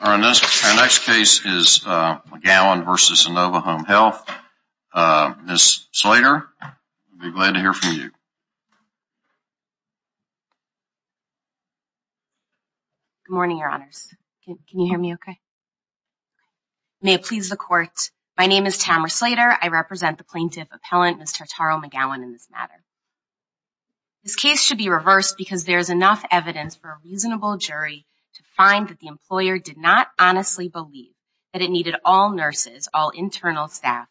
Our next case is McGowan v. Inova Home Health. Ms. Slater, we'll be glad to hear from you. Good morning, Your Honors. Can you hear me okay? May it please the Court, my name is Tamara Slater. I represent the plaintiff appellant, Ms. Tartaro-McGowan, in this matter. This case should be reversed because there is enough evidence for a reasonable jury to find that the employer did not honestly believe that it needed all nurses, all internal staff,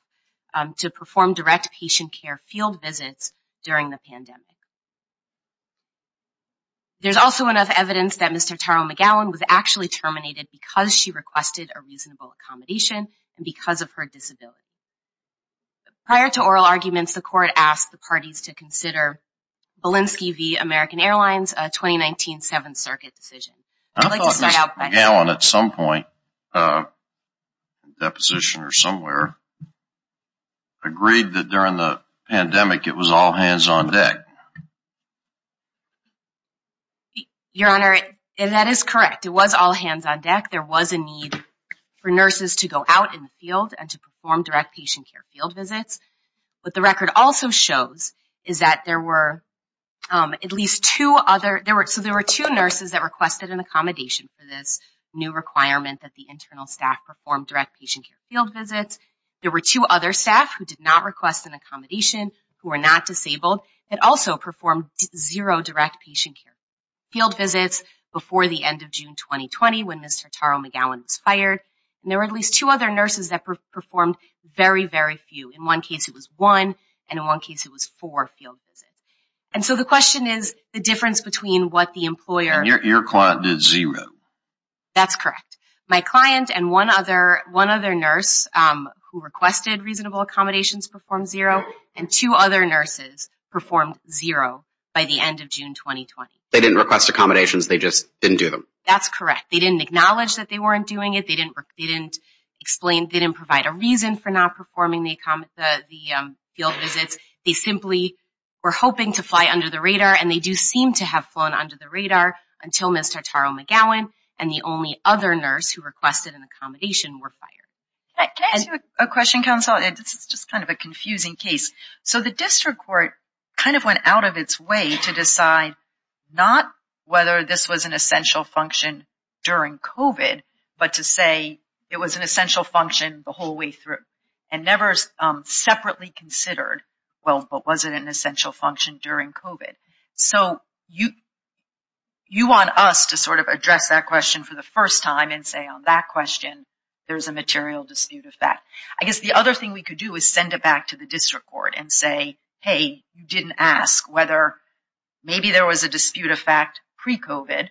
to perform direct patient care field visits during the pandemic. There's also enough evidence that Ms. Tartaro-McGowan was actually terminated because she requested a reasonable accommodation and because of her disability. Prior to oral arguments, the Court asked the parties to consider Belinsky v. American Airlines' 2019 Seventh Circuit decision. I'd like to start out by... I thought Ms. McGowan at some point, in a deposition or somewhere, agreed that during the pandemic it was all hands on deck. Your Honor, that is correct. It was all hands on deck. There was a need for nurses to go out in the field and to perform direct patient care field visits. What the record also shows is that there were at least two other... So there were two nurses that requested an accommodation for this new requirement that the internal staff perform direct patient care field visits. There were two other staff who did not request an accommodation, who were not disabled, and also performed zero direct patient care field visits before the end of June 2020 when Ms. Tartaro-McGowan was fired. There were at least two other nurses that performed very, very few. In one case it was one, and in one case it was four field visits. And so the question is the difference between what the employer... And your client did zero. That's correct. My client and one other nurse who requested reasonable accommodations performed zero, and two other nurses performed zero by the end of June 2020. They didn't request accommodations, they just didn't do them. That's correct. They didn't acknowledge that they weren't doing it. They didn't provide a reason for not performing the field visits. They simply were hoping to fly under the radar, and they do seem to have flown under the radar until Ms. Tartaro-McGowan and the only other nurse who requested an accommodation were fired. Can I ask you a question, counsel? This is just kind of a confusing case. So the district court kind of went out of its way to decide not whether this was an essential function during COVID, but to say it was an essential function the whole way through, and never separately considered, well, but was it an essential function during COVID? So you want us to sort of address that question for the first time and say on that question there's a material dispute of that. I guess the other thing we could do is send it back to the district court and say, hey, you didn't ask whether maybe there was a dispute of fact pre-COVID,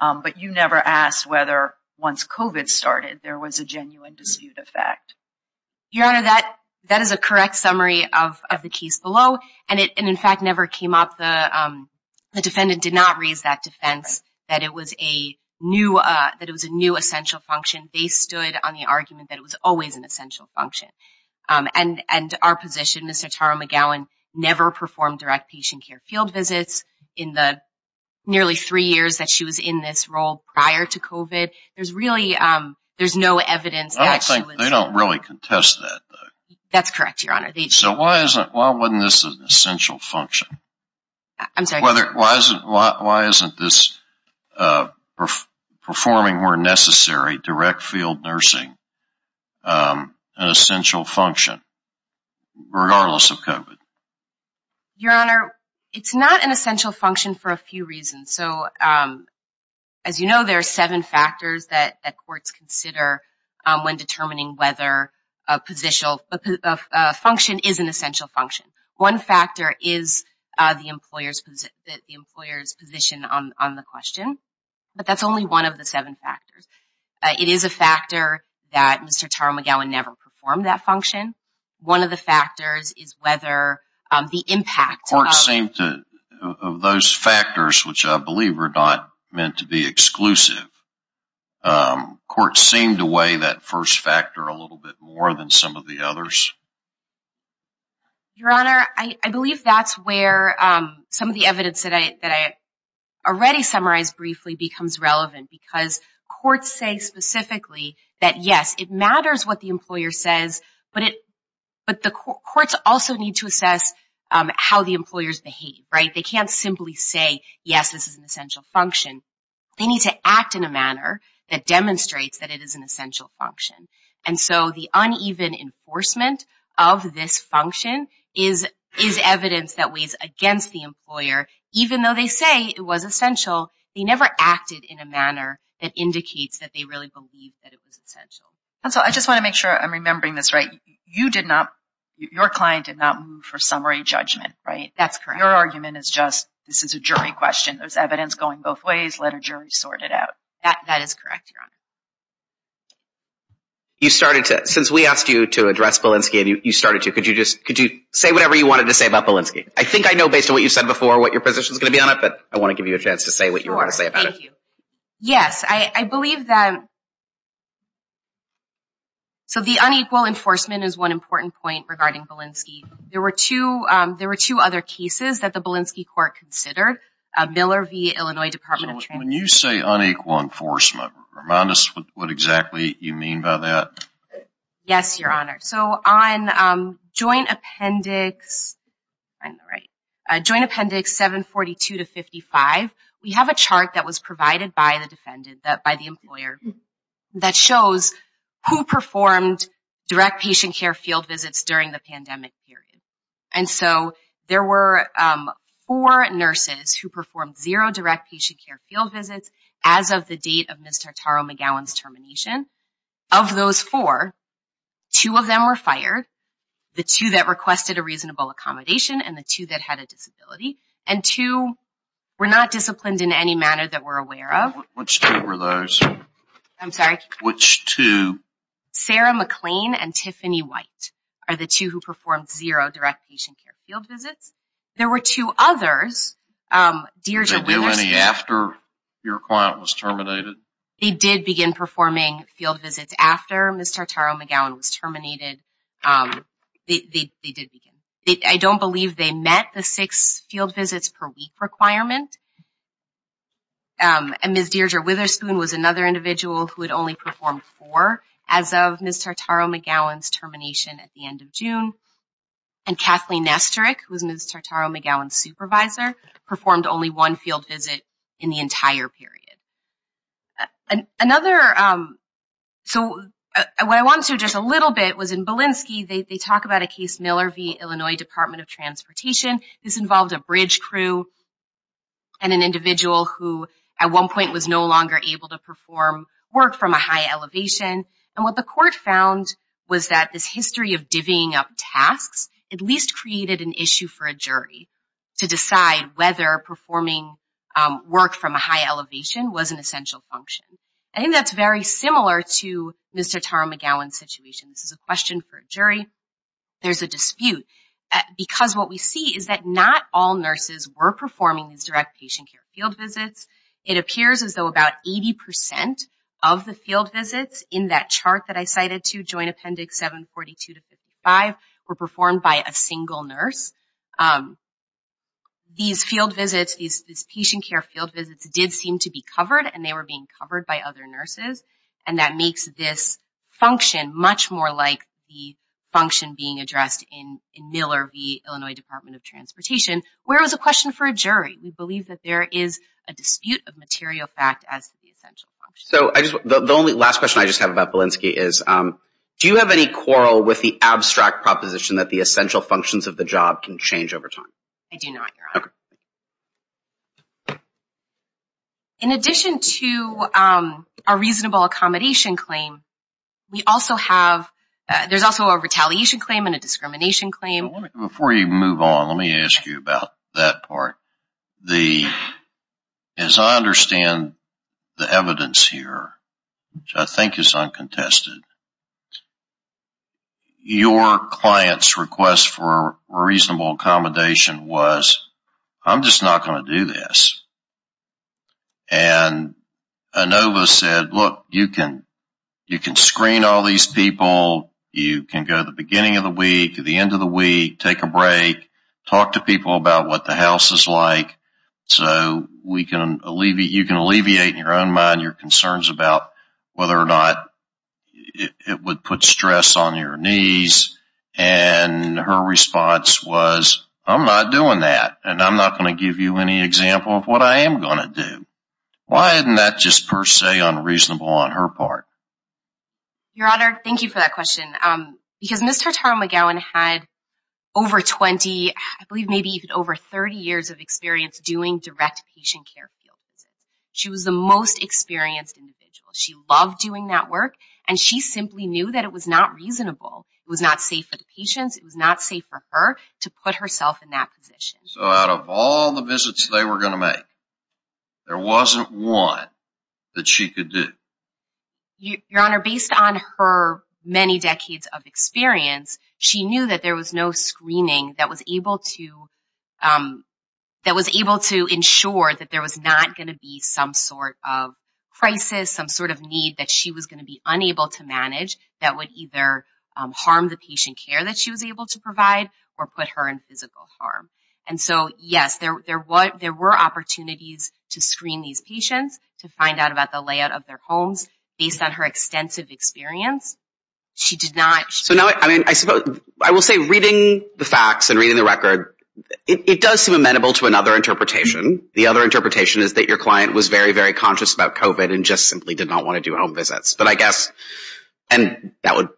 but you never asked whether once COVID started there was a genuine dispute of fact. Your Honor, that is a correct summary of the case below, and, in fact, never came up. The defendant did not raise that defense that it was a new essential function. They stood on the argument that it was always an essential function. And our position, Mr. Tara McGowan never performed direct patient care field visits in the nearly three years that she was in this role prior to COVID. There's really no evidence that she was- I don't think they don't really contest that, though. That's correct, Your Honor. So why wasn't this an essential function? I'm sorry? Why isn't this performing where necessary, direct field nursing, an essential function, regardless of COVID? Your Honor, it's not an essential function for a few reasons. So, as you know, there are seven factors that courts consider when determining whether a function is an essential function. One factor is the employer's position on the question, but that's only one of the seven factors. It is a factor that Mr. Tara McGowan never performed that function. One of the factors is whether the impact of- Courts seem to- of those factors, which I believe were not meant to be exclusive, courts seem to weigh that first factor a little bit more than some of the others. Your Honor, I believe that's where some of the evidence that I already summarized briefly becomes relevant because courts say specifically that, yes, it matters what the employer says, but it- but the courts also need to assess how the employers behave, right? They can't simply say, yes, this is an essential function. They need to act in a manner that demonstrates that it is an essential function. And so the uneven enforcement of this function is- is evidence that weighs against the employer. Even though they say it was essential, they never acted in a manner that indicates that they really believed that it was essential. And so I just want to make sure I'm remembering this right. You did not- your client did not move for summary judgment, right? That's correct. Your argument is just this is a jury question. There's evidence going both ways. Let a jury sort it out. That is correct, Your Honor. You started to- since we asked you to address Belinsky and you started to, could you just- could you say whatever you wanted to say about Belinsky? I think I know based on what you said before what your position is going to be on it, but I want to give you a chance to say what you want to say about it. Sure, thank you. Yes, I believe that- So the unequal enforcement is one important point regarding Belinsky. There were two- there were two other cases that the Belinsky court considered. Miller v. Illinois Department of- When you say unequal enforcement, remind us what exactly you mean by that. Yes, Your Honor. So on Joint Appendix 742-55, we have a chart that was provided by the defendant, by the employer, that shows who performed direct patient care field visits during the pandemic period. And so there were four nurses who performed zero direct patient care field visits as of the date of Ms. Tartaro-McGowan's termination. Of those four, two of them were fired, the two that requested a reasonable accommodation and the two that had a disability. And two were not disciplined in any manner that we're aware of. Which two were those? I'm sorry? Which two? Sarah McLean and Tiffany White are the two who performed zero direct patient care field visits. There were two others- Did they do any after your client was terminated? They did begin performing field visits after Ms. Tartaro-McGowan was terminated. They did begin. I don't believe they met the six field visits per week requirement. And Ms. Deirdre Witherspoon was another individual who had only performed four as of Ms. Tartaro-McGowan's termination at the end of June. And Kathleen Nesterick, who was Ms. Tartaro-McGowan's supervisor, performed only one field visit in the entire period. Another- So what I want to address a little bit was in Belinsky, they talk about a case Miller v. Illinois Department of Transportation. This involved a bridge crew and an individual who, at one point, was no longer able to perform work from a high elevation. And what the court found was that this history of divvying up tasks at least created an issue for a jury to decide whether performing work from a high elevation was an essential function. I think that's very similar to Ms. Tartaro-McGowan's situation. This is a question for a jury. There's a dispute because what we see is that not all nurses were performing these direct patient care field visits. It appears as though about 80% of the field visits in that chart that I cited to, Joint Appendix 742-55, were performed by a single nurse. These field visits, these patient care field visits, did seem to be covered, and they were being covered by other nurses. And that makes this function much more like the function being addressed in Miller v. Illinois Department of Transportation, where it was a question for a jury. We believe that there is a dispute of material fact as the essential function. The only last question I just have about Belinsky is, do you have any quarrel with the abstract proposition that the essential functions of the job can change over time? I do not, Your Honor. In addition to a reasonable accommodation claim, there's also a retaliation claim and a discrimination claim. Before you move on, let me ask you about that part. As I understand the evidence here, which I think is uncontested, your client's request for reasonable accommodation was, I'm just not going to do this. And Inova said, look, you can screen all these people. You can go at the beginning of the week, at the end of the week, take a break, talk to people about what the house is like, so you can alleviate in your own mind your concerns about whether or not it would put stress on your knees. And her response was, I'm not doing that, and I'm not going to give you any example of what I am going to do. Why isn't that just per se unreasonable on her part? Your Honor, thank you for that question. Because Ms. Hurtado-McGowan had over 20, I believe maybe even over 30 years of experience doing direct patient care. She was the most experienced individual. She loved doing that work, and she simply knew that it was not reasonable. It was not safe for the patients. It was not safe for her to put herself in that position. So out of all the visits they were going to make, there wasn't one that she could do? Your Honor, based on her many decades of experience, she knew that there was no screening that was able to ensure that there was not going to be some sort of crisis, some sort of need that she was going to be unable to manage that would either harm the patient care that she was able to provide or put her in physical harm. And so, yes, there were opportunities to screen these patients, to find out about the layout of their homes. Based on her extensive experience, she did not. So now I suppose I will say reading the facts and reading the record, it does seem amenable to another interpretation. The other interpretation is that your client was very, very conscious about COVID and just simply did not want to do home visits. But I guess, and that would,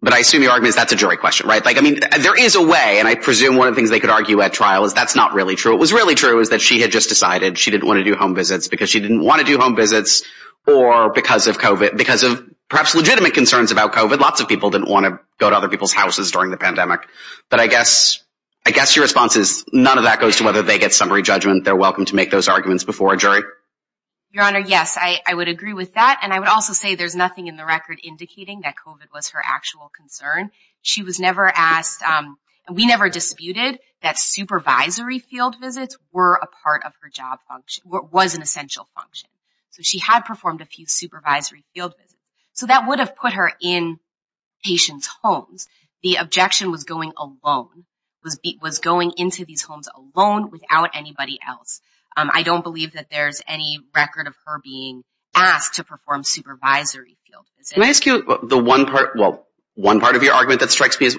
but I assume your argument is that's a jury question, right? Like, I mean, there is a way, and I presume one of the things they could argue at trial is that's not really true. It was really true is that she had just decided she didn't want to do home visits because she didn't want to do home visits or because of COVID, because of perhaps legitimate concerns about COVID. Lots of people didn't want to go to other people's houses during the pandemic. But I guess your response is none of that goes to whether they get summary judgment. They're welcome to make those arguments before a jury. Your Honor, yes, I would agree with that. And I would also say there's nothing in the record indicating that COVID was her actual concern. She was never asked, and we never disputed, that supervisory field visits were a part of her job function, was an essential function. So she had performed a few supervisory field visits. So that would have put her in patients' homes. The objection was going alone, was going into these homes alone without anybody else. I don't believe that there's any record of her being asked to perform supervisory field visits. Can I ask you the one part, well, one part of your argument that strikes me as,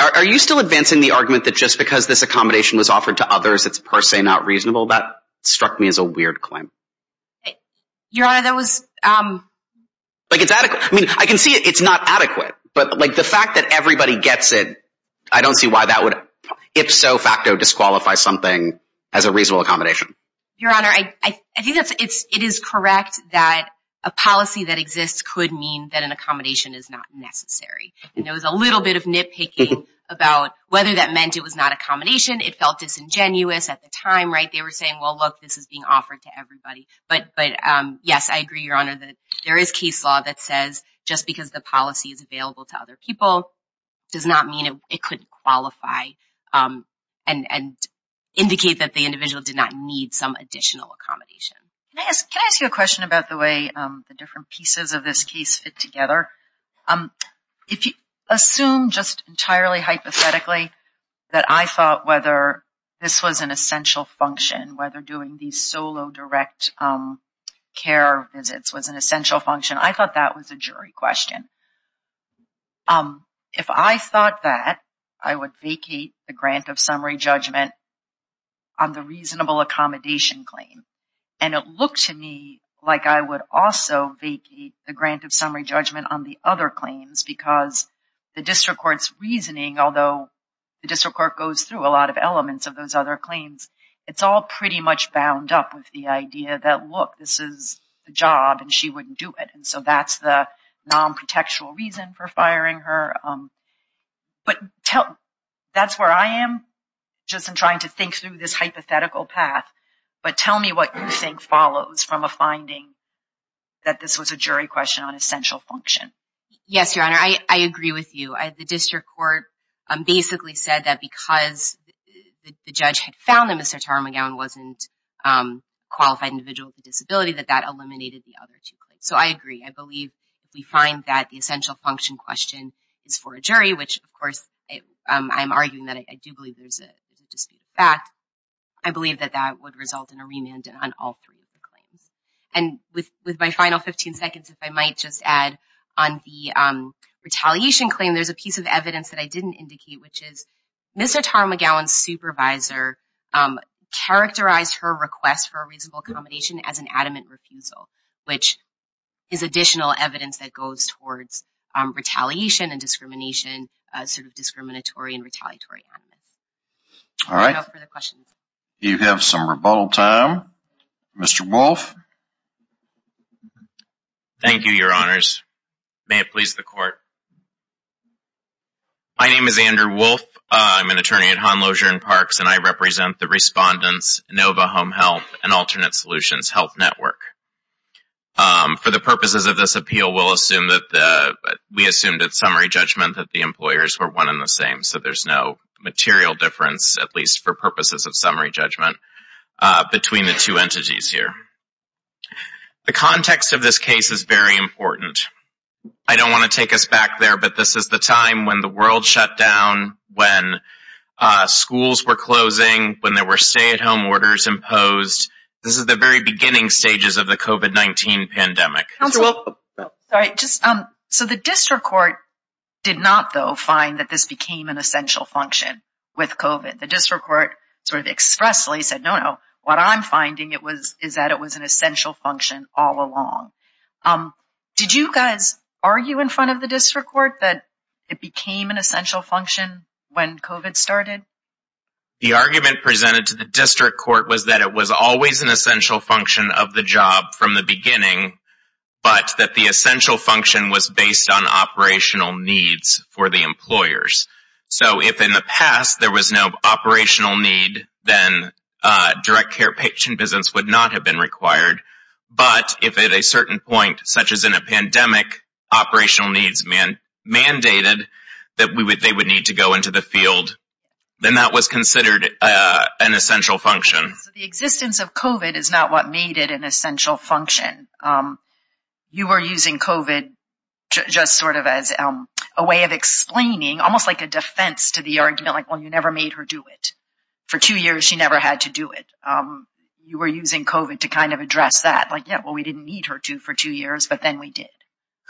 are you still advancing the argument that just because this accommodation was offered to others, it's per se not reasonable? That struck me as a weird claim. Your Honor, that was. Like it's adequate. I mean, I can see it's not adequate. But like the fact that everybody gets it, I don't see why that would, ipso facto, disqualify something as a reasonable accommodation. Your Honor, I think it is correct that a policy that exists could mean that an accommodation is not necessary. And there was a little bit of nitpicking about whether that meant it was not accommodation. It felt disingenuous at the time, right? They were saying, well, look, this is being offered to everybody. But yes, I agree, Your Honor, that there is case law that says just because the policy is available to other people does not mean it couldn't qualify and indicate that the individual did not need some additional accommodation. Can I ask you a question about the way the different pieces of this case fit together? If you assume just entirely hypothetically that I thought whether this was an essential function, whether doing these solo direct care visits was an essential function, I thought that was a jury question. If I thought that, I would vacate the grant of summary judgment on the reasonable accommodation claim. And it looked to me like I would also vacate the grant of summary judgment on the other claims because the district court's reasoning, although the district court goes through a lot of elements of those other claims, it's all pretty much bound up with the idea that, look, this is the job and she wouldn't do it. And so that's the non-protectual reason for firing her. But that's where I am just in trying to think through this hypothetical path. But tell me what you think follows from a finding that this was a jury question on essential function. Yes, Your Honor, I agree with you. The district court basically said that because the judge had found that Mr. Taramagown wasn't a qualified individual with a disability, that that eliminated the other two claims. So I agree. I believe we find that the essential function question is for a jury, which, of course, I'm arguing that I do believe there's a disputed fact. I believe that that would result in a remand on all three of the claims. And with my final 15 seconds, if I might just add on the retaliation claim, there's a piece of evidence that I didn't indicate, which is Mr. Taramagown's supervisor characterized her request for a reasonable accommodation as an adamant refusal, which is additional evidence that goes towards retaliation and discrimination, sort of discriminatory and retaliatory. All right. Any further questions? You have some rebuttal time. Mr. Wolfe? Thank you, Your Honors. May it please the Court. My name is Andrew Wolfe. I'm an attorney at Hahn-Losier and Parks, and I represent the Respondents' NOVA Home Health and Alternate Solutions Health Network. For the purposes of this appeal, we'll assume that we assumed at summary judgment that the employers were one and the same, so there's no material difference, at least for purposes of summary judgment, between the two entities here. The context of this case is very important. I don't want to take us back there, but this is the time when the world shut down, when schools were closing, when there were stay-at-home orders imposed. This is the very beginning stages of the COVID-19 pandemic. Mr. Wolfe? Sorry. So the district court did not, though, find that this became an essential function with COVID. The district court sort of expressly said, no, no, what I'm finding is that it was an essential function all along. Did you guys argue in front of the district court that it became an essential function when COVID started? The argument presented to the district court was that it was always an essential function of the job from the beginning, but that the essential function was based on operational needs for the employers. So if in the past there was no operational need, then direct care patient business would not have been required. But if at a certain point, such as in a pandemic, operational needs mandated that they would need to go into the field, then that was considered an essential function. So the existence of COVID is not what made it an essential function. You were using COVID just sort of as a way of explaining, almost like a defense to the argument, like, well, you never made her do it. For two years, she never had to do it. You were using COVID to kind of address that. Like, yeah, well, we didn't need her to for two years, but then we did.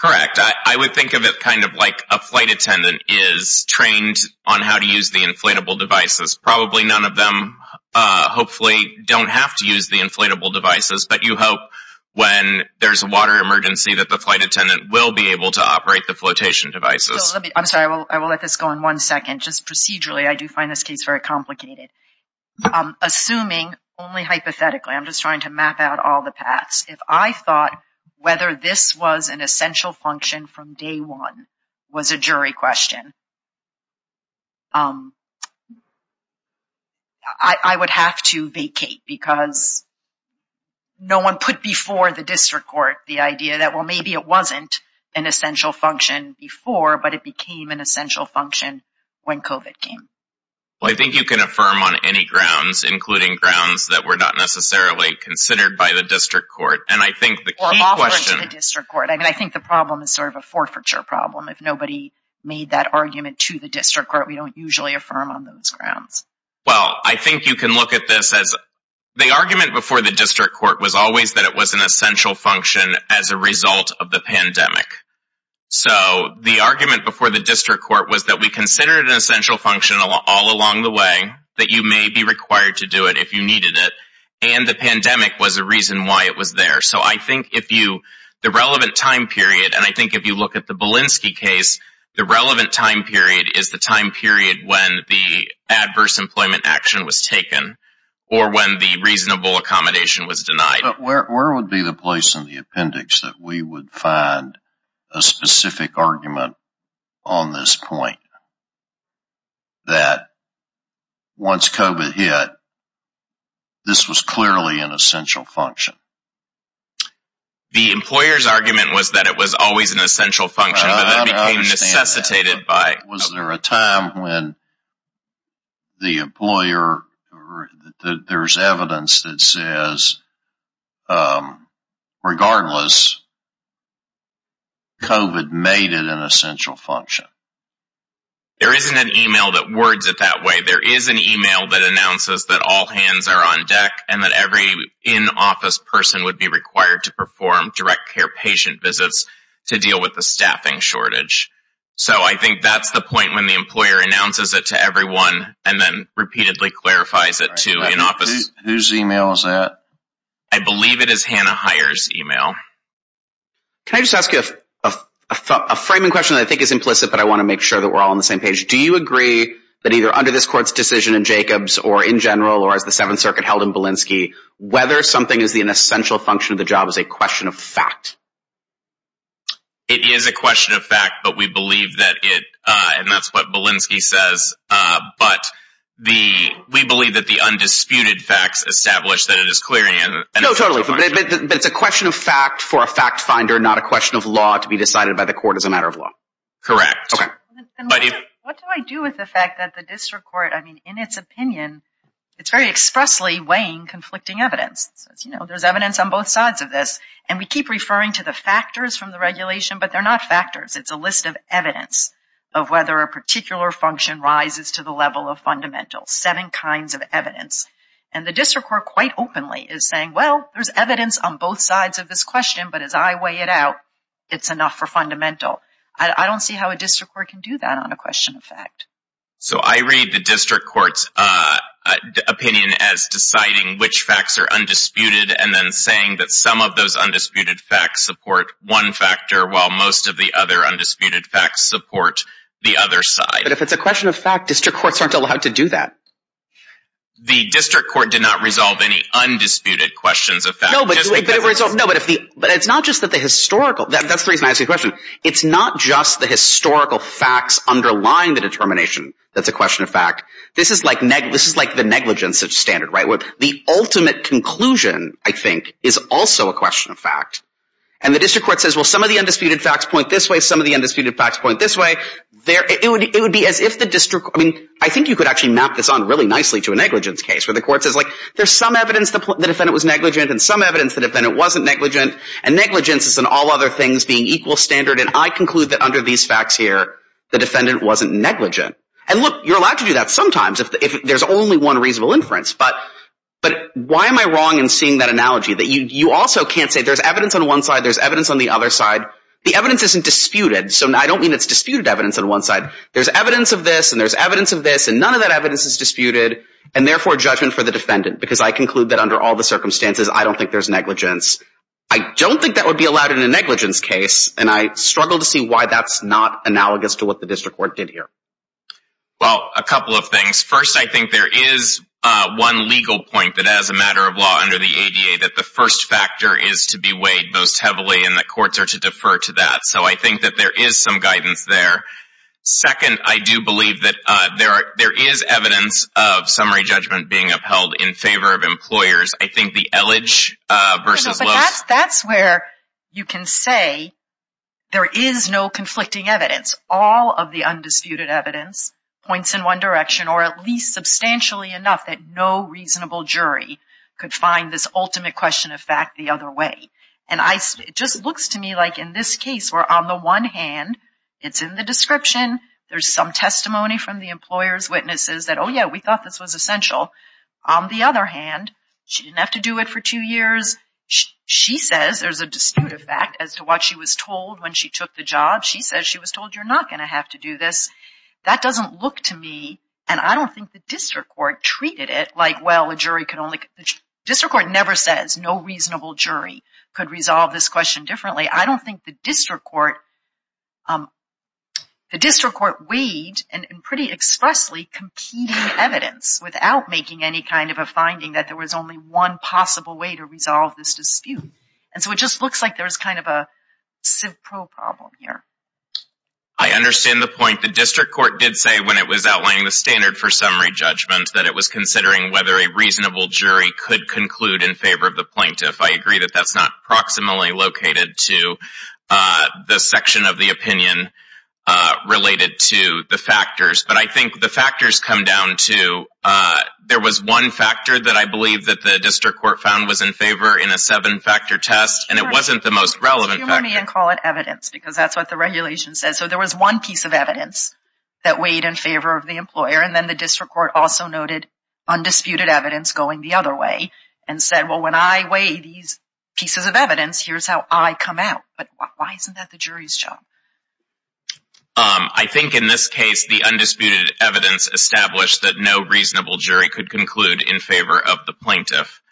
Correct. I would think of it kind of like a flight attendant is trained on how to use the inflatable devices. Probably none of them hopefully don't have to use the inflatable devices, but you hope when there's a water emergency that the flight attendant will be able to operate the flotation devices. I'm sorry, I will let this go on one second. Just procedurally, I do find this case very complicated. Assuming only hypothetically, I'm just trying to map out all the paths. If I thought whether this was an essential function from day one was a jury question. I would have to vacate because no one put before the district court the idea that, well, maybe it wasn't an essential function before, but it became an essential function when COVID came. Well, I think you can affirm on any grounds, including grounds that were not necessarily considered by the district court. Or offered to the district court. I think the problem is sort of a forfeiture problem. If nobody made that argument to the district court, we don't usually affirm on those grounds. Well, I think you can look at this as the argument before the district court was always that it was an essential function as a result of the pandemic. So, the argument before the district court was that we considered an essential function all along the way, that you may be required to do it if you needed it, and the pandemic was a reason why it was there. So, I think if you, the relevant time period, and I think if you look at the Belinsky case, the relevant time period is the time period when the adverse employment action was taken, or when the reasonable accommodation was denied. But where would be the place in the appendix that we would find a specific argument on this point? That once COVID hit, this was clearly an essential function. The employer's argument was that it was always an essential function, but then it became necessitated by... Was there a time when the employer, there's evidence that says, regardless, COVID made it an essential function? There isn't an email that words it that way. There is an email that announces that all hands are on deck and that every in-office person would be required to perform direct care patient visits to deal with the staffing shortage. So, I think that's the point when the employer announces it to everyone and then repeatedly clarifies it to in-office. Whose email is that? I believe it is Hannah Heyer's email. Can I just ask you a framing question that I think is implicit, but I want to make sure that we're all on the same page. Do you agree that either under this court's decision in Jacobs, or in general, or as the Seventh Circuit held in Belinsky, whether something is an essential function of the job is a question of fact? It is a question of fact, but we believe that it, and that's what Belinsky says, but we believe that the undisputed facts establish that it is clearly an... No, totally, but it's a question of fact for a fact finder, not a question of law to be decided by the court as a matter of law. Correct. Okay. What do I do with the fact that the district court, I mean, in its opinion, it's very expressly weighing conflicting evidence. You know, there's evidence on both sides of this, and we keep referring to the factors from the regulation, but they're not factors. It's a list of evidence of whether a particular function rises to the level of fundamentals, seven kinds of evidence. And the district court quite openly is saying, well, there's evidence on both sides of this question, but as I weigh it out, it's enough for fundamental. I don't see how a district court can do that on a question of fact. So I read the district court's opinion as deciding which facts are undisputed and then saying that some of those undisputed facts support one factor while most of the other undisputed facts support the other side. But if it's a question of fact, district courts aren't allowed to do that. The district court did not resolve any undisputed questions of fact. No, but it's not just that the historical – that's the reason I asked you the question. It's not just the historical facts underlying the determination that's a question of fact. This is like the negligence standard, right, where the ultimate conclusion, I think, is also a question of fact. And the district court says, well, some of the undisputed facts point this way, some of the undisputed facts point this way. It would be as if the district – I mean, I think you could actually map this on really nicely to a negligence case where the court says, like, there's some evidence the defendant was negligent and some evidence the defendant wasn't negligent, and negligence is in all other things being equal standard, and I conclude that under these facts here, the defendant wasn't negligent. And look, you're allowed to do that sometimes if there's only one reasonable inference, but why am I wrong in seeing that analogy? You also can't say there's evidence on one side, there's evidence on the other side. The evidence isn't disputed, so I don't mean it's disputed evidence on one side. There's evidence of this and there's evidence of this, and none of that evidence is disputed, and therefore judgment for the defendant because I conclude that under all the circumstances, I don't think there's negligence. I don't think that would be allowed in a negligence case, and I struggle to see why that's not analogous to what the district court did here. Well, a couple of things. First, I think there is one legal point that as a matter of law under the ADA that the first factor is to be weighed most heavily and that courts are to defer to that. So I think that there is some guidance there. Second, I do believe that there is evidence of summary judgment being upheld in favor of employers. I think the ellage versus loaf. That's where you can say there is no conflicting evidence. All of the undisputed evidence points in one direction or at least substantially enough that no reasonable jury could find this ultimate question of fact the other way. It just looks to me like in this case where on the one hand, it's in the description. There's some testimony from the employer's witnesses that, oh, yeah, we thought this was essential. On the other hand, she didn't have to do it for two years. She says there's a disputed fact as to what she was told when she took the job. She says she was told you're not going to have to do this. That doesn't look to me, and I don't think the district court treated it like, well, a jury could only – could resolve this question differently. I don't think the district court weighed in pretty expressly competing evidence without making any kind of a finding that there was only one possible way to resolve this dispute. And so it just looks like there's kind of a CIVPRO problem here. I understand the point. The district court did say when it was outlining the standard for summary judgment that it was considering whether a reasonable jury could conclude in favor of the plaintiff. I agree that that's not proximally located to the section of the opinion related to the factors. But I think the factors come down to – there was one factor that I believe that the district court found was in favor in a seven-factor test, and it wasn't the most relevant factor. You can call it evidence because that's what the regulation says. So there was one piece of evidence that weighed in favor of the employer, and then the district court also noted undisputed evidence going the other way and said, well, when I weigh these pieces of evidence, here's how I come out. But why isn't that the jury's job? I think in this case the undisputed evidence established that no reasonable jury could conclude in favor of the plaintiff.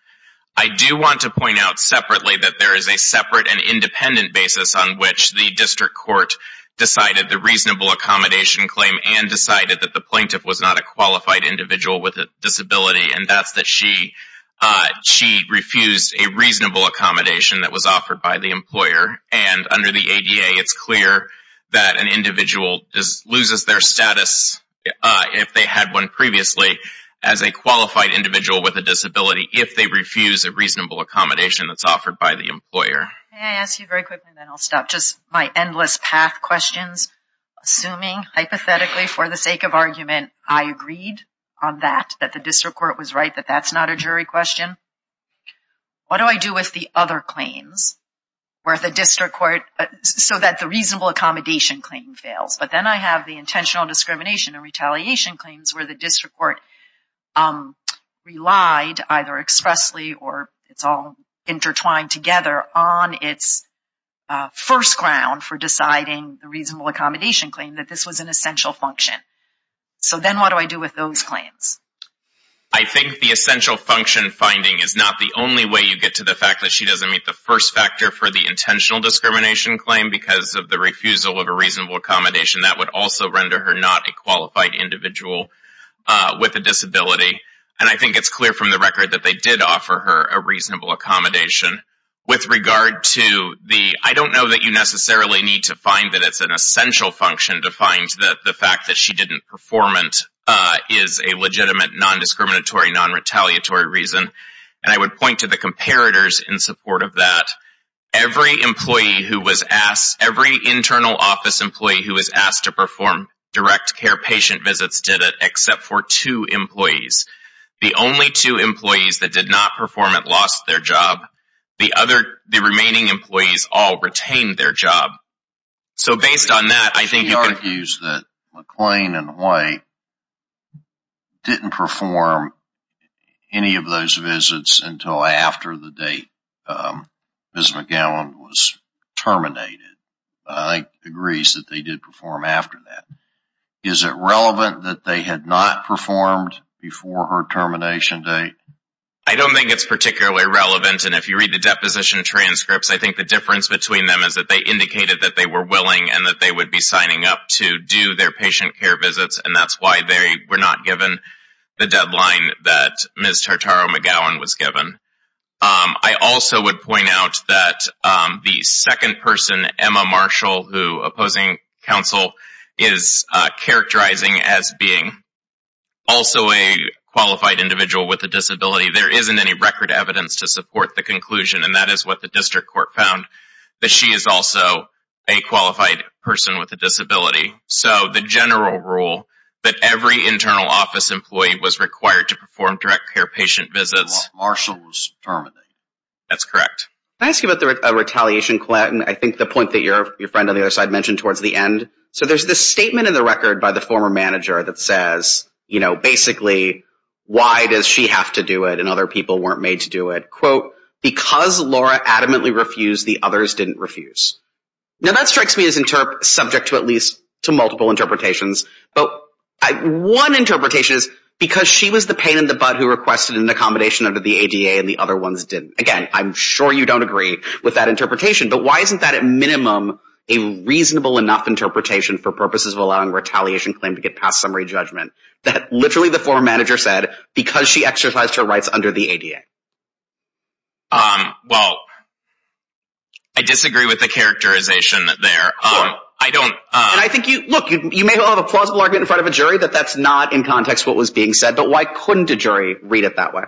I do want to point out separately that there is a separate and independent basis on which the district court decided the reasonable accommodation claim and decided that the plaintiff was not a qualified individual with a disability, and that's that she refused a reasonable accommodation that was offered by the employer. And under the ADA, it's clear that an individual loses their status, if they had one previously, as a qualified individual with a disability if they refuse a reasonable accommodation that's offered by the employer. May I ask you very quickly, then I'll stop, just my endless path questions, assuming hypothetically for the sake of argument, I agreed on that, that the district court was right, that that's not a jury question. What do I do with the other claims where the district court, so that the reasonable accommodation claim fails, but then I have the intentional discrimination and retaliation claims where the district court relied either expressly or it's all intertwined together on its first ground for deciding the reasonable accommodation claim that this was an essential function. So then what do I do with those claims? I think the essential function finding is not the only way you get to the fact that she doesn't meet the first factor for the intentional discrimination claim because of the refusal of a reasonable accommodation. That would also render her not a qualified individual with a disability. And I think it's clear from the record that they did offer her a reasonable accommodation. With regard to the, I don't know that you necessarily need to find that it's an essential function to find that the fact that she didn't performant is a legitimate non-discriminatory, non-retaliatory reason. And I would point to the comparators in support of that. Every internal office employee who was asked to perform direct care patient visits did it except for two employees. The only two employees that did not perform it lost their job. The remaining employees all retained their job. She argues that McLean and White didn't perform any of those visits until after the date Ms. McGowan was terminated. I think she agrees that they did perform after that. Is it relevant that they had not performed before her termination date? I don't think it's particularly relevant. And if you read the deposition transcripts, I think the difference between them is that they indicated that they were willing and that they would be signing up to do their patient care visits. And that's why they were not given the deadline that Ms. Tartaro-McGowan was given. I also would point out that the second person, Emma Marshall, who opposing counsel, is characterizing as being also a qualified individual with a disability. There isn't any record evidence to support the conclusion, and that is what the district court found, that she is also a qualified person with a disability. So the general rule that every internal office employee was required to perform direct care patient visits. While Marshall was terminated. That's correct. Can I ask you about the retaliation claim? I think the point that your friend on the other side mentioned towards the end. So there's this statement in the record by the former manager that says, you know, basically, why does she have to do it and other people weren't made to do it? Quote, because Laura adamantly refused, the others didn't refuse. Now that strikes me as subject to at least to multiple interpretations. But one interpretation is because she was the pain in the butt who requested an accommodation under the ADA and the other ones didn't. Again, I'm sure you don't agree with that interpretation. But why isn't that at minimum a reasonable enough interpretation for purposes of allowing retaliation claim to get past summary judgment? That literally the former manager said because she exercised her rights under the ADA. Well, I disagree with the characterization there. I don't. And I think you look, you may have a plausible argument in front of a jury that that's not in context what was being said. But why couldn't a jury read it that way?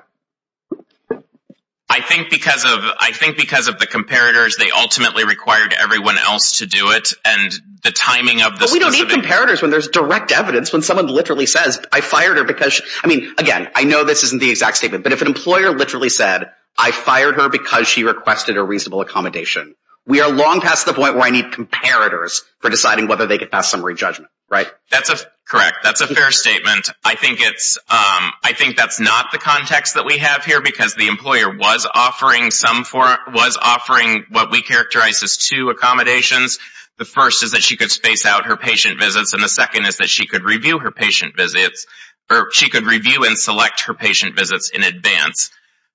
I think because of I think because of the comparators, they ultimately required everyone else to do it. And the timing of the we don't need comparators when there's direct evidence, when someone literally says, I fired her because I mean, again, I know this isn't the exact statement. But if an employer literally said, I fired her because she requested a reasonable accommodation. We are long past the point where I need comparators for deciding whether they get past summary judgment. Right. That's correct. That's a fair statement. I think it's I think that's not the context that we have here because the employer was offering some for was offering what we characterize as two accommodations. The first is that she could space out her patient visits. And the second is that she could review her patient visits or she could review and select her patient visits in advance.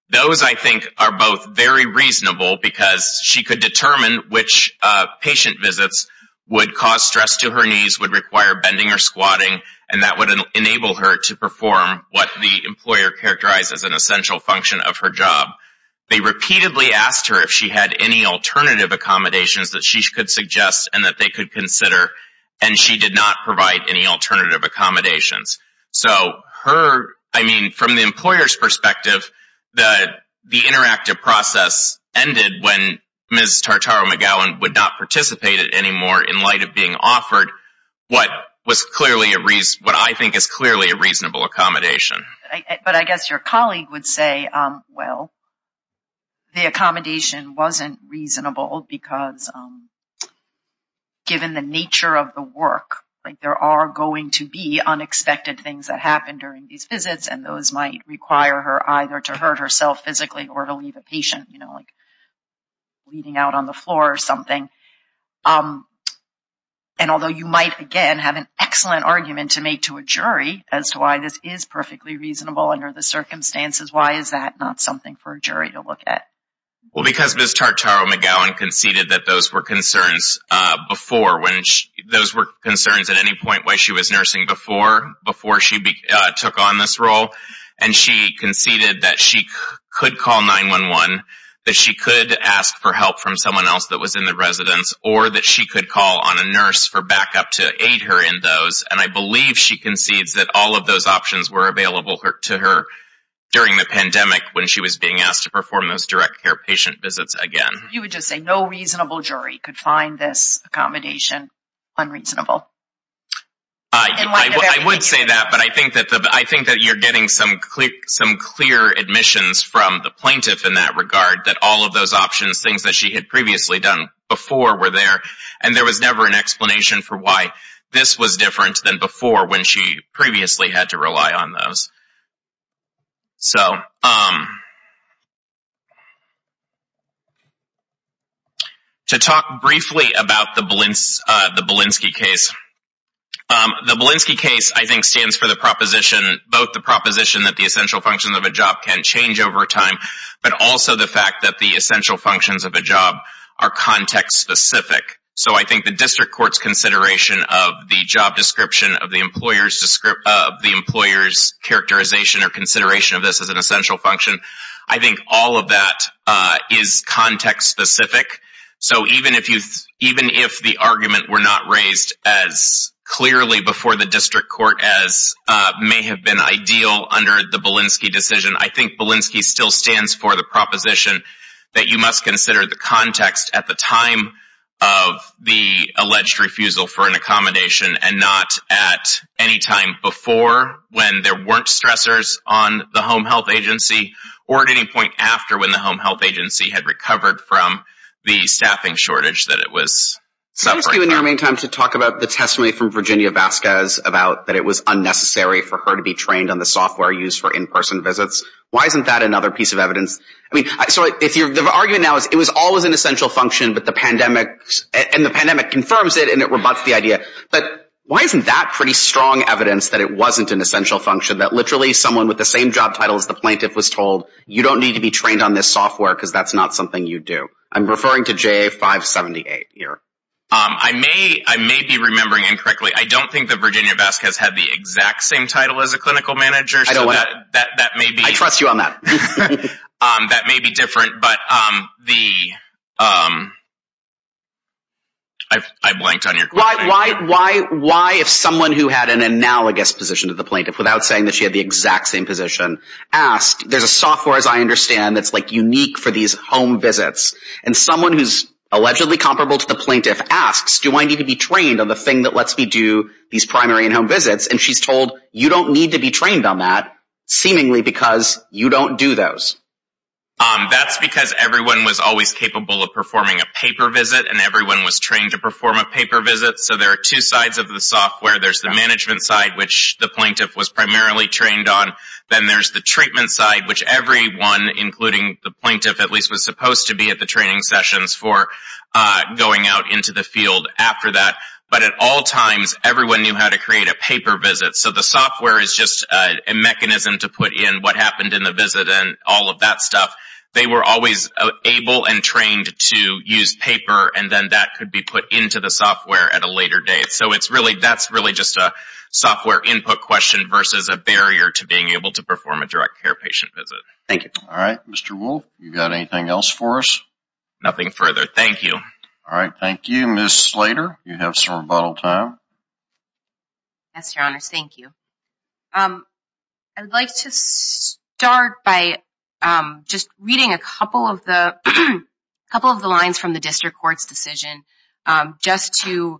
Those, I think, are both very reasonable because she could determine which patient visits would cause stress to her knees, would require bending or squatting. And that would enable her to perform what the employer characterized as an essential function of her job. They repeatedly asked her if she had any alternative accommodations that she could suggest and that they could consider. And she did not provide any alternative accommodations. So her, I mean, from the employer's perspective, the interactive process ended when Ms. Tartaro-McGowan would not participate anymore in light of being offered what was clearly a what I think is clearly a reasonable accommodation. But I guess your colleague would say, well, the accommodation wasn't reasonable because given the nature of the work, like there are going to be unexpected things that happen during these visits. And those might require her either to hurt herself physically or to leave a patient, you know, like bleeding out on the floor or something. And although you might, again, have an excellent argument to make to a jury as to why this is perfectly reasonable under the circumstances, why is that not something for a jury to look at? Well, because Ms. Tartaro-McGowan conceded that those were concerns before, when those were concerns at any point while she was nursing before, before she took on this role. And she conceded that she could call 911, that she could ask for help from someone else that was in the residence, or that she could call on a nurse for backup to aid her in those. And I believe she concedes that all of those options were available to her during the pandemic when she was being asked to perform those direct care patient visits again. You would just say no reasonable jury could find this accommodation unreasonable? I would say that, but I think that you're getting some clear admissions from the plaintiff in that regard, that all of those options, things that she had previously done before were there. And there was never an explanation for why this was different than before when she previously had to rely on those. So, to talk briefly about the Belinsky case. The Belinsky case, I think, stands for the proposition, both the proposition that the essential functions of a job can change over time, but also the fact that the essential functions of a job are context-specific. So, I think the district court's consideration of the job description, of the employer's characterization or consideration of this as an essential function, I think all of that is context-specific. So, even if the argument were not raised as clearly before the district court as may have been ideal under the Belinsky decision, I think Belinsky still stands for the proposition that you must consider the context at the time of the alleged refusal for an accommodation and not at any time before when there weren't stressors on the home health agency, or at any point after when the home health agency had recovered from the staffing shortage that it was suffering from. Let me ask you in your main time to talk about the testimony from Virginia Vasquez about that it was unnecessary for her to be trained on the software used for in-person visits. Why isn't that another piece of evidence? I mean, so the argument now is it was always an essential function, and the pandemic confirms it, and it rebuts the idea. But why isn't that pretty strong evidence that it wasn't an essential function, that literally someone with the same job title as the plaintiff was told, you don't need to be trained on this software because that's not something you do? I'm referring to JA578 here. I may be remembering incorrectly. I don't think that Virginia Vasquez had the exact same title as a clinical manager. I trust you on that. That may be different, but I blanked on your question. Why, if someone who had an analogous position to the plaintiff, without saying that she had the exact same position, asked, there's a software, as I understand, that's unique for these home visits. And someone who's allegedly comparable to the plaintiff asks, do I need to be trained on the thing that lets me do these primary in-home visits? And she's told, you don't need to be trained on that, seemingly because you don't do those. That's because everyone was always capable of performing a paper visit, and everyone was trained to perform a paper visit. So there are two sides of the software. There's the management side, which the plaintiff was primarily trained on. Then there's the treatment side, which everyone, including the plaintiff at least, was supposed to be at the training sessions for going out into the field after that. But at all times, everyone knew how to create a paper visit. So the software is just a mechanism to put in what happened in the visit and all of that stuff. They were always able and trained to use paper, and then that could be put into the software at a later date. So that's really just a software input question versus a barrier to being able to perform a direct care patient visit. Thank you. All right. Mr. Wolf, you got anything else for us? Nothing further. Thank you. All right. Thank you. Ms. Slater, you have some rebuttal time. Yes, Your Honors. Thank you. I would like to start by just reading a couple of the lines from the district court's decision just to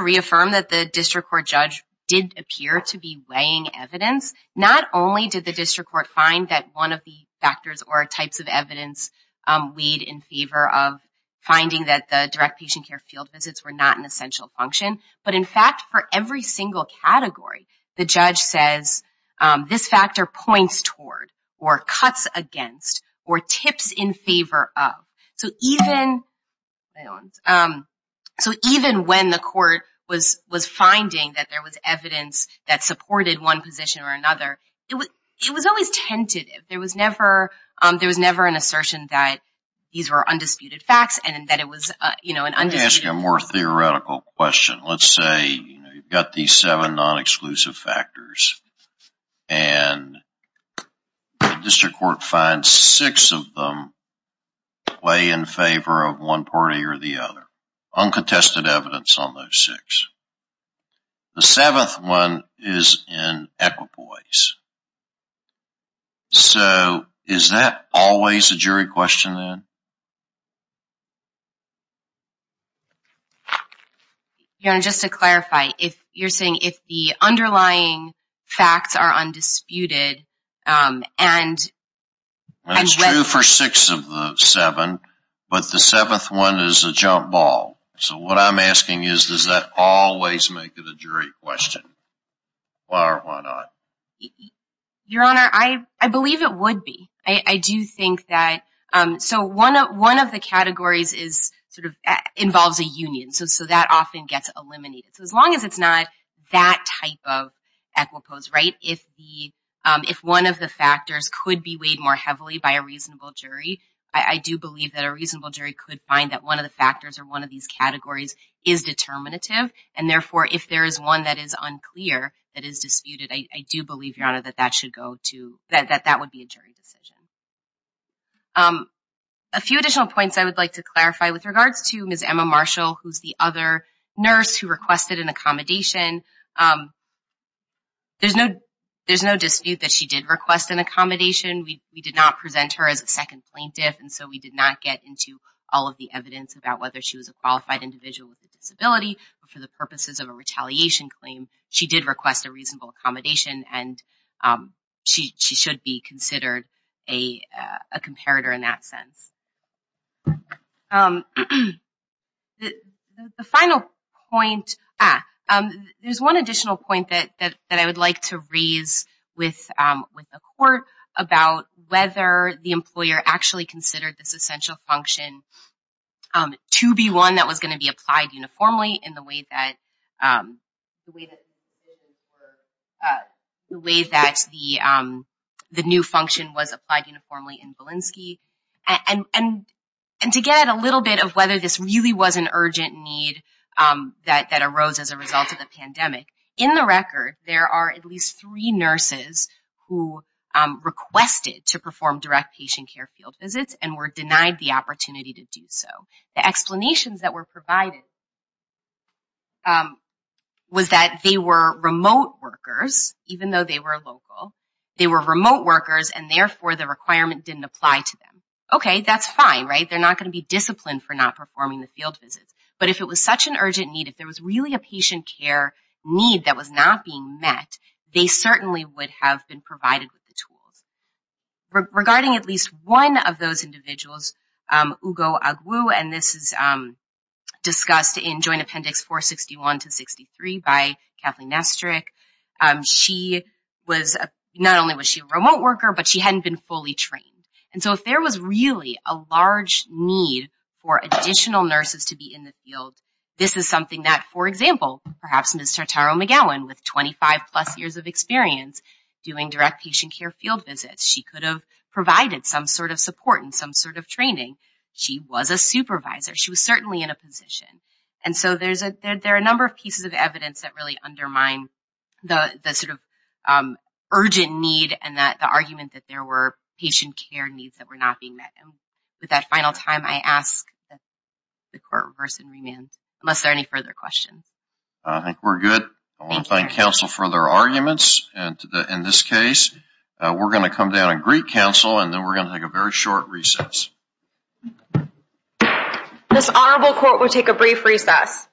reaffirm that the district court judge did appear to be weighing evidence. Not only did the district court find that one of the factors or types of evidence weighed in favor of finding that the direct patient care field visits were not an essential function, but in fact, for every single category, the judge says this factor points toward or cuts against or tips in favor of. So even when the court was finding that there was evidence that supported one position or another, it was always tentative. There was never an assertion that these were undisputed facts and that it was an undisputed… Let me ask you a more theoretical question. Let's say you've got these seven non-exclusive factors and the district court finds six of them weigh in favor of one party or the other. Uncontested evidence on those six. The seventh one is in equipoise. So is that always a jury question then? Your Honor, just to clarify, you're saying if the underlying facts are undisputed and… It's true for six of the seven, but the seventh one is a jump ball. So what I'm asking is, does that always make it a jury question? Why or why not? Your Honor, I believe it would be. I do think that… So one of the categories involves a union, so that often gets eliminated. So as long as it's not that type of equipoise, right? If one of the factors could be weighed more heavily by a reasonable jury, I do believe that a reasonable jury could find that one of the factors or one of these categories is determinative. And therefore, if there is one that is unclear, that is disputed, I do believe, Your Honor, that that would be a jury decision. A few additional points I would like to clarify with regards to Ms. Emma Marshall, who's the other nurse who requested an accommodation. There's no dispute that she did request an accommodation. We did not present her as a second plaintiff, and so we did not get into all of the evidence about whether she was a qualified individual with a disability. For the purposes of a retaliation claim, she did request a reasonable accommodation, and she should be considered a comparator in that sense. The final point… There's one additional point that I would like to raise with the Court about whether the employer actually considered this essential function to be one that was going to be applied uniformly in the way that the new function was applied uniformly in Belinsky, and to get a little bit of whether this really was an urgent need that arose as a result of the pandemic. In the record, there are at least three nurses who requested to perform direct patient care field visits and were denied the opportunity to do so. The explanations that were provided was that they were remote workers, even though they were local. They were remote workers, and therefore the requirement didn't apply to them. Okay, that's fine, right? They're not going to be disciplined for not performing the field visits. But if it was such an urgent need, if there was really a patient care need that was not being met, they certainly would have been provided with the tools. Regarding at least one of those individuals, Ugo Agwu, and this is discussed in Joint Appendix 461-63 by Kathleen Nestrick, not only was she a remote worker, but she hadn't been fully trained. And so if there was really a large need for additional nurses to be in the field, this is something that, for example, perhaps Ms. Tartaro-McGowan, with 25-plus years of experience doing direct patient care field visits, she could have provided some sort of support and some sort of training. She was a supervisor. She was certainly in a position. And so there are a number of pieces of evidence that really undermine the sort of urgent need and the argument that there were patient care needs that were not being met. With that final time, I ask that the Court reverse and remand, unless there are any further questions. I think we're good. I want to thank counsel for their arguments. In this case, we're going to come down and greet counsel, and then we're going to take a very short recess. This Honorable Court will take a brief recess.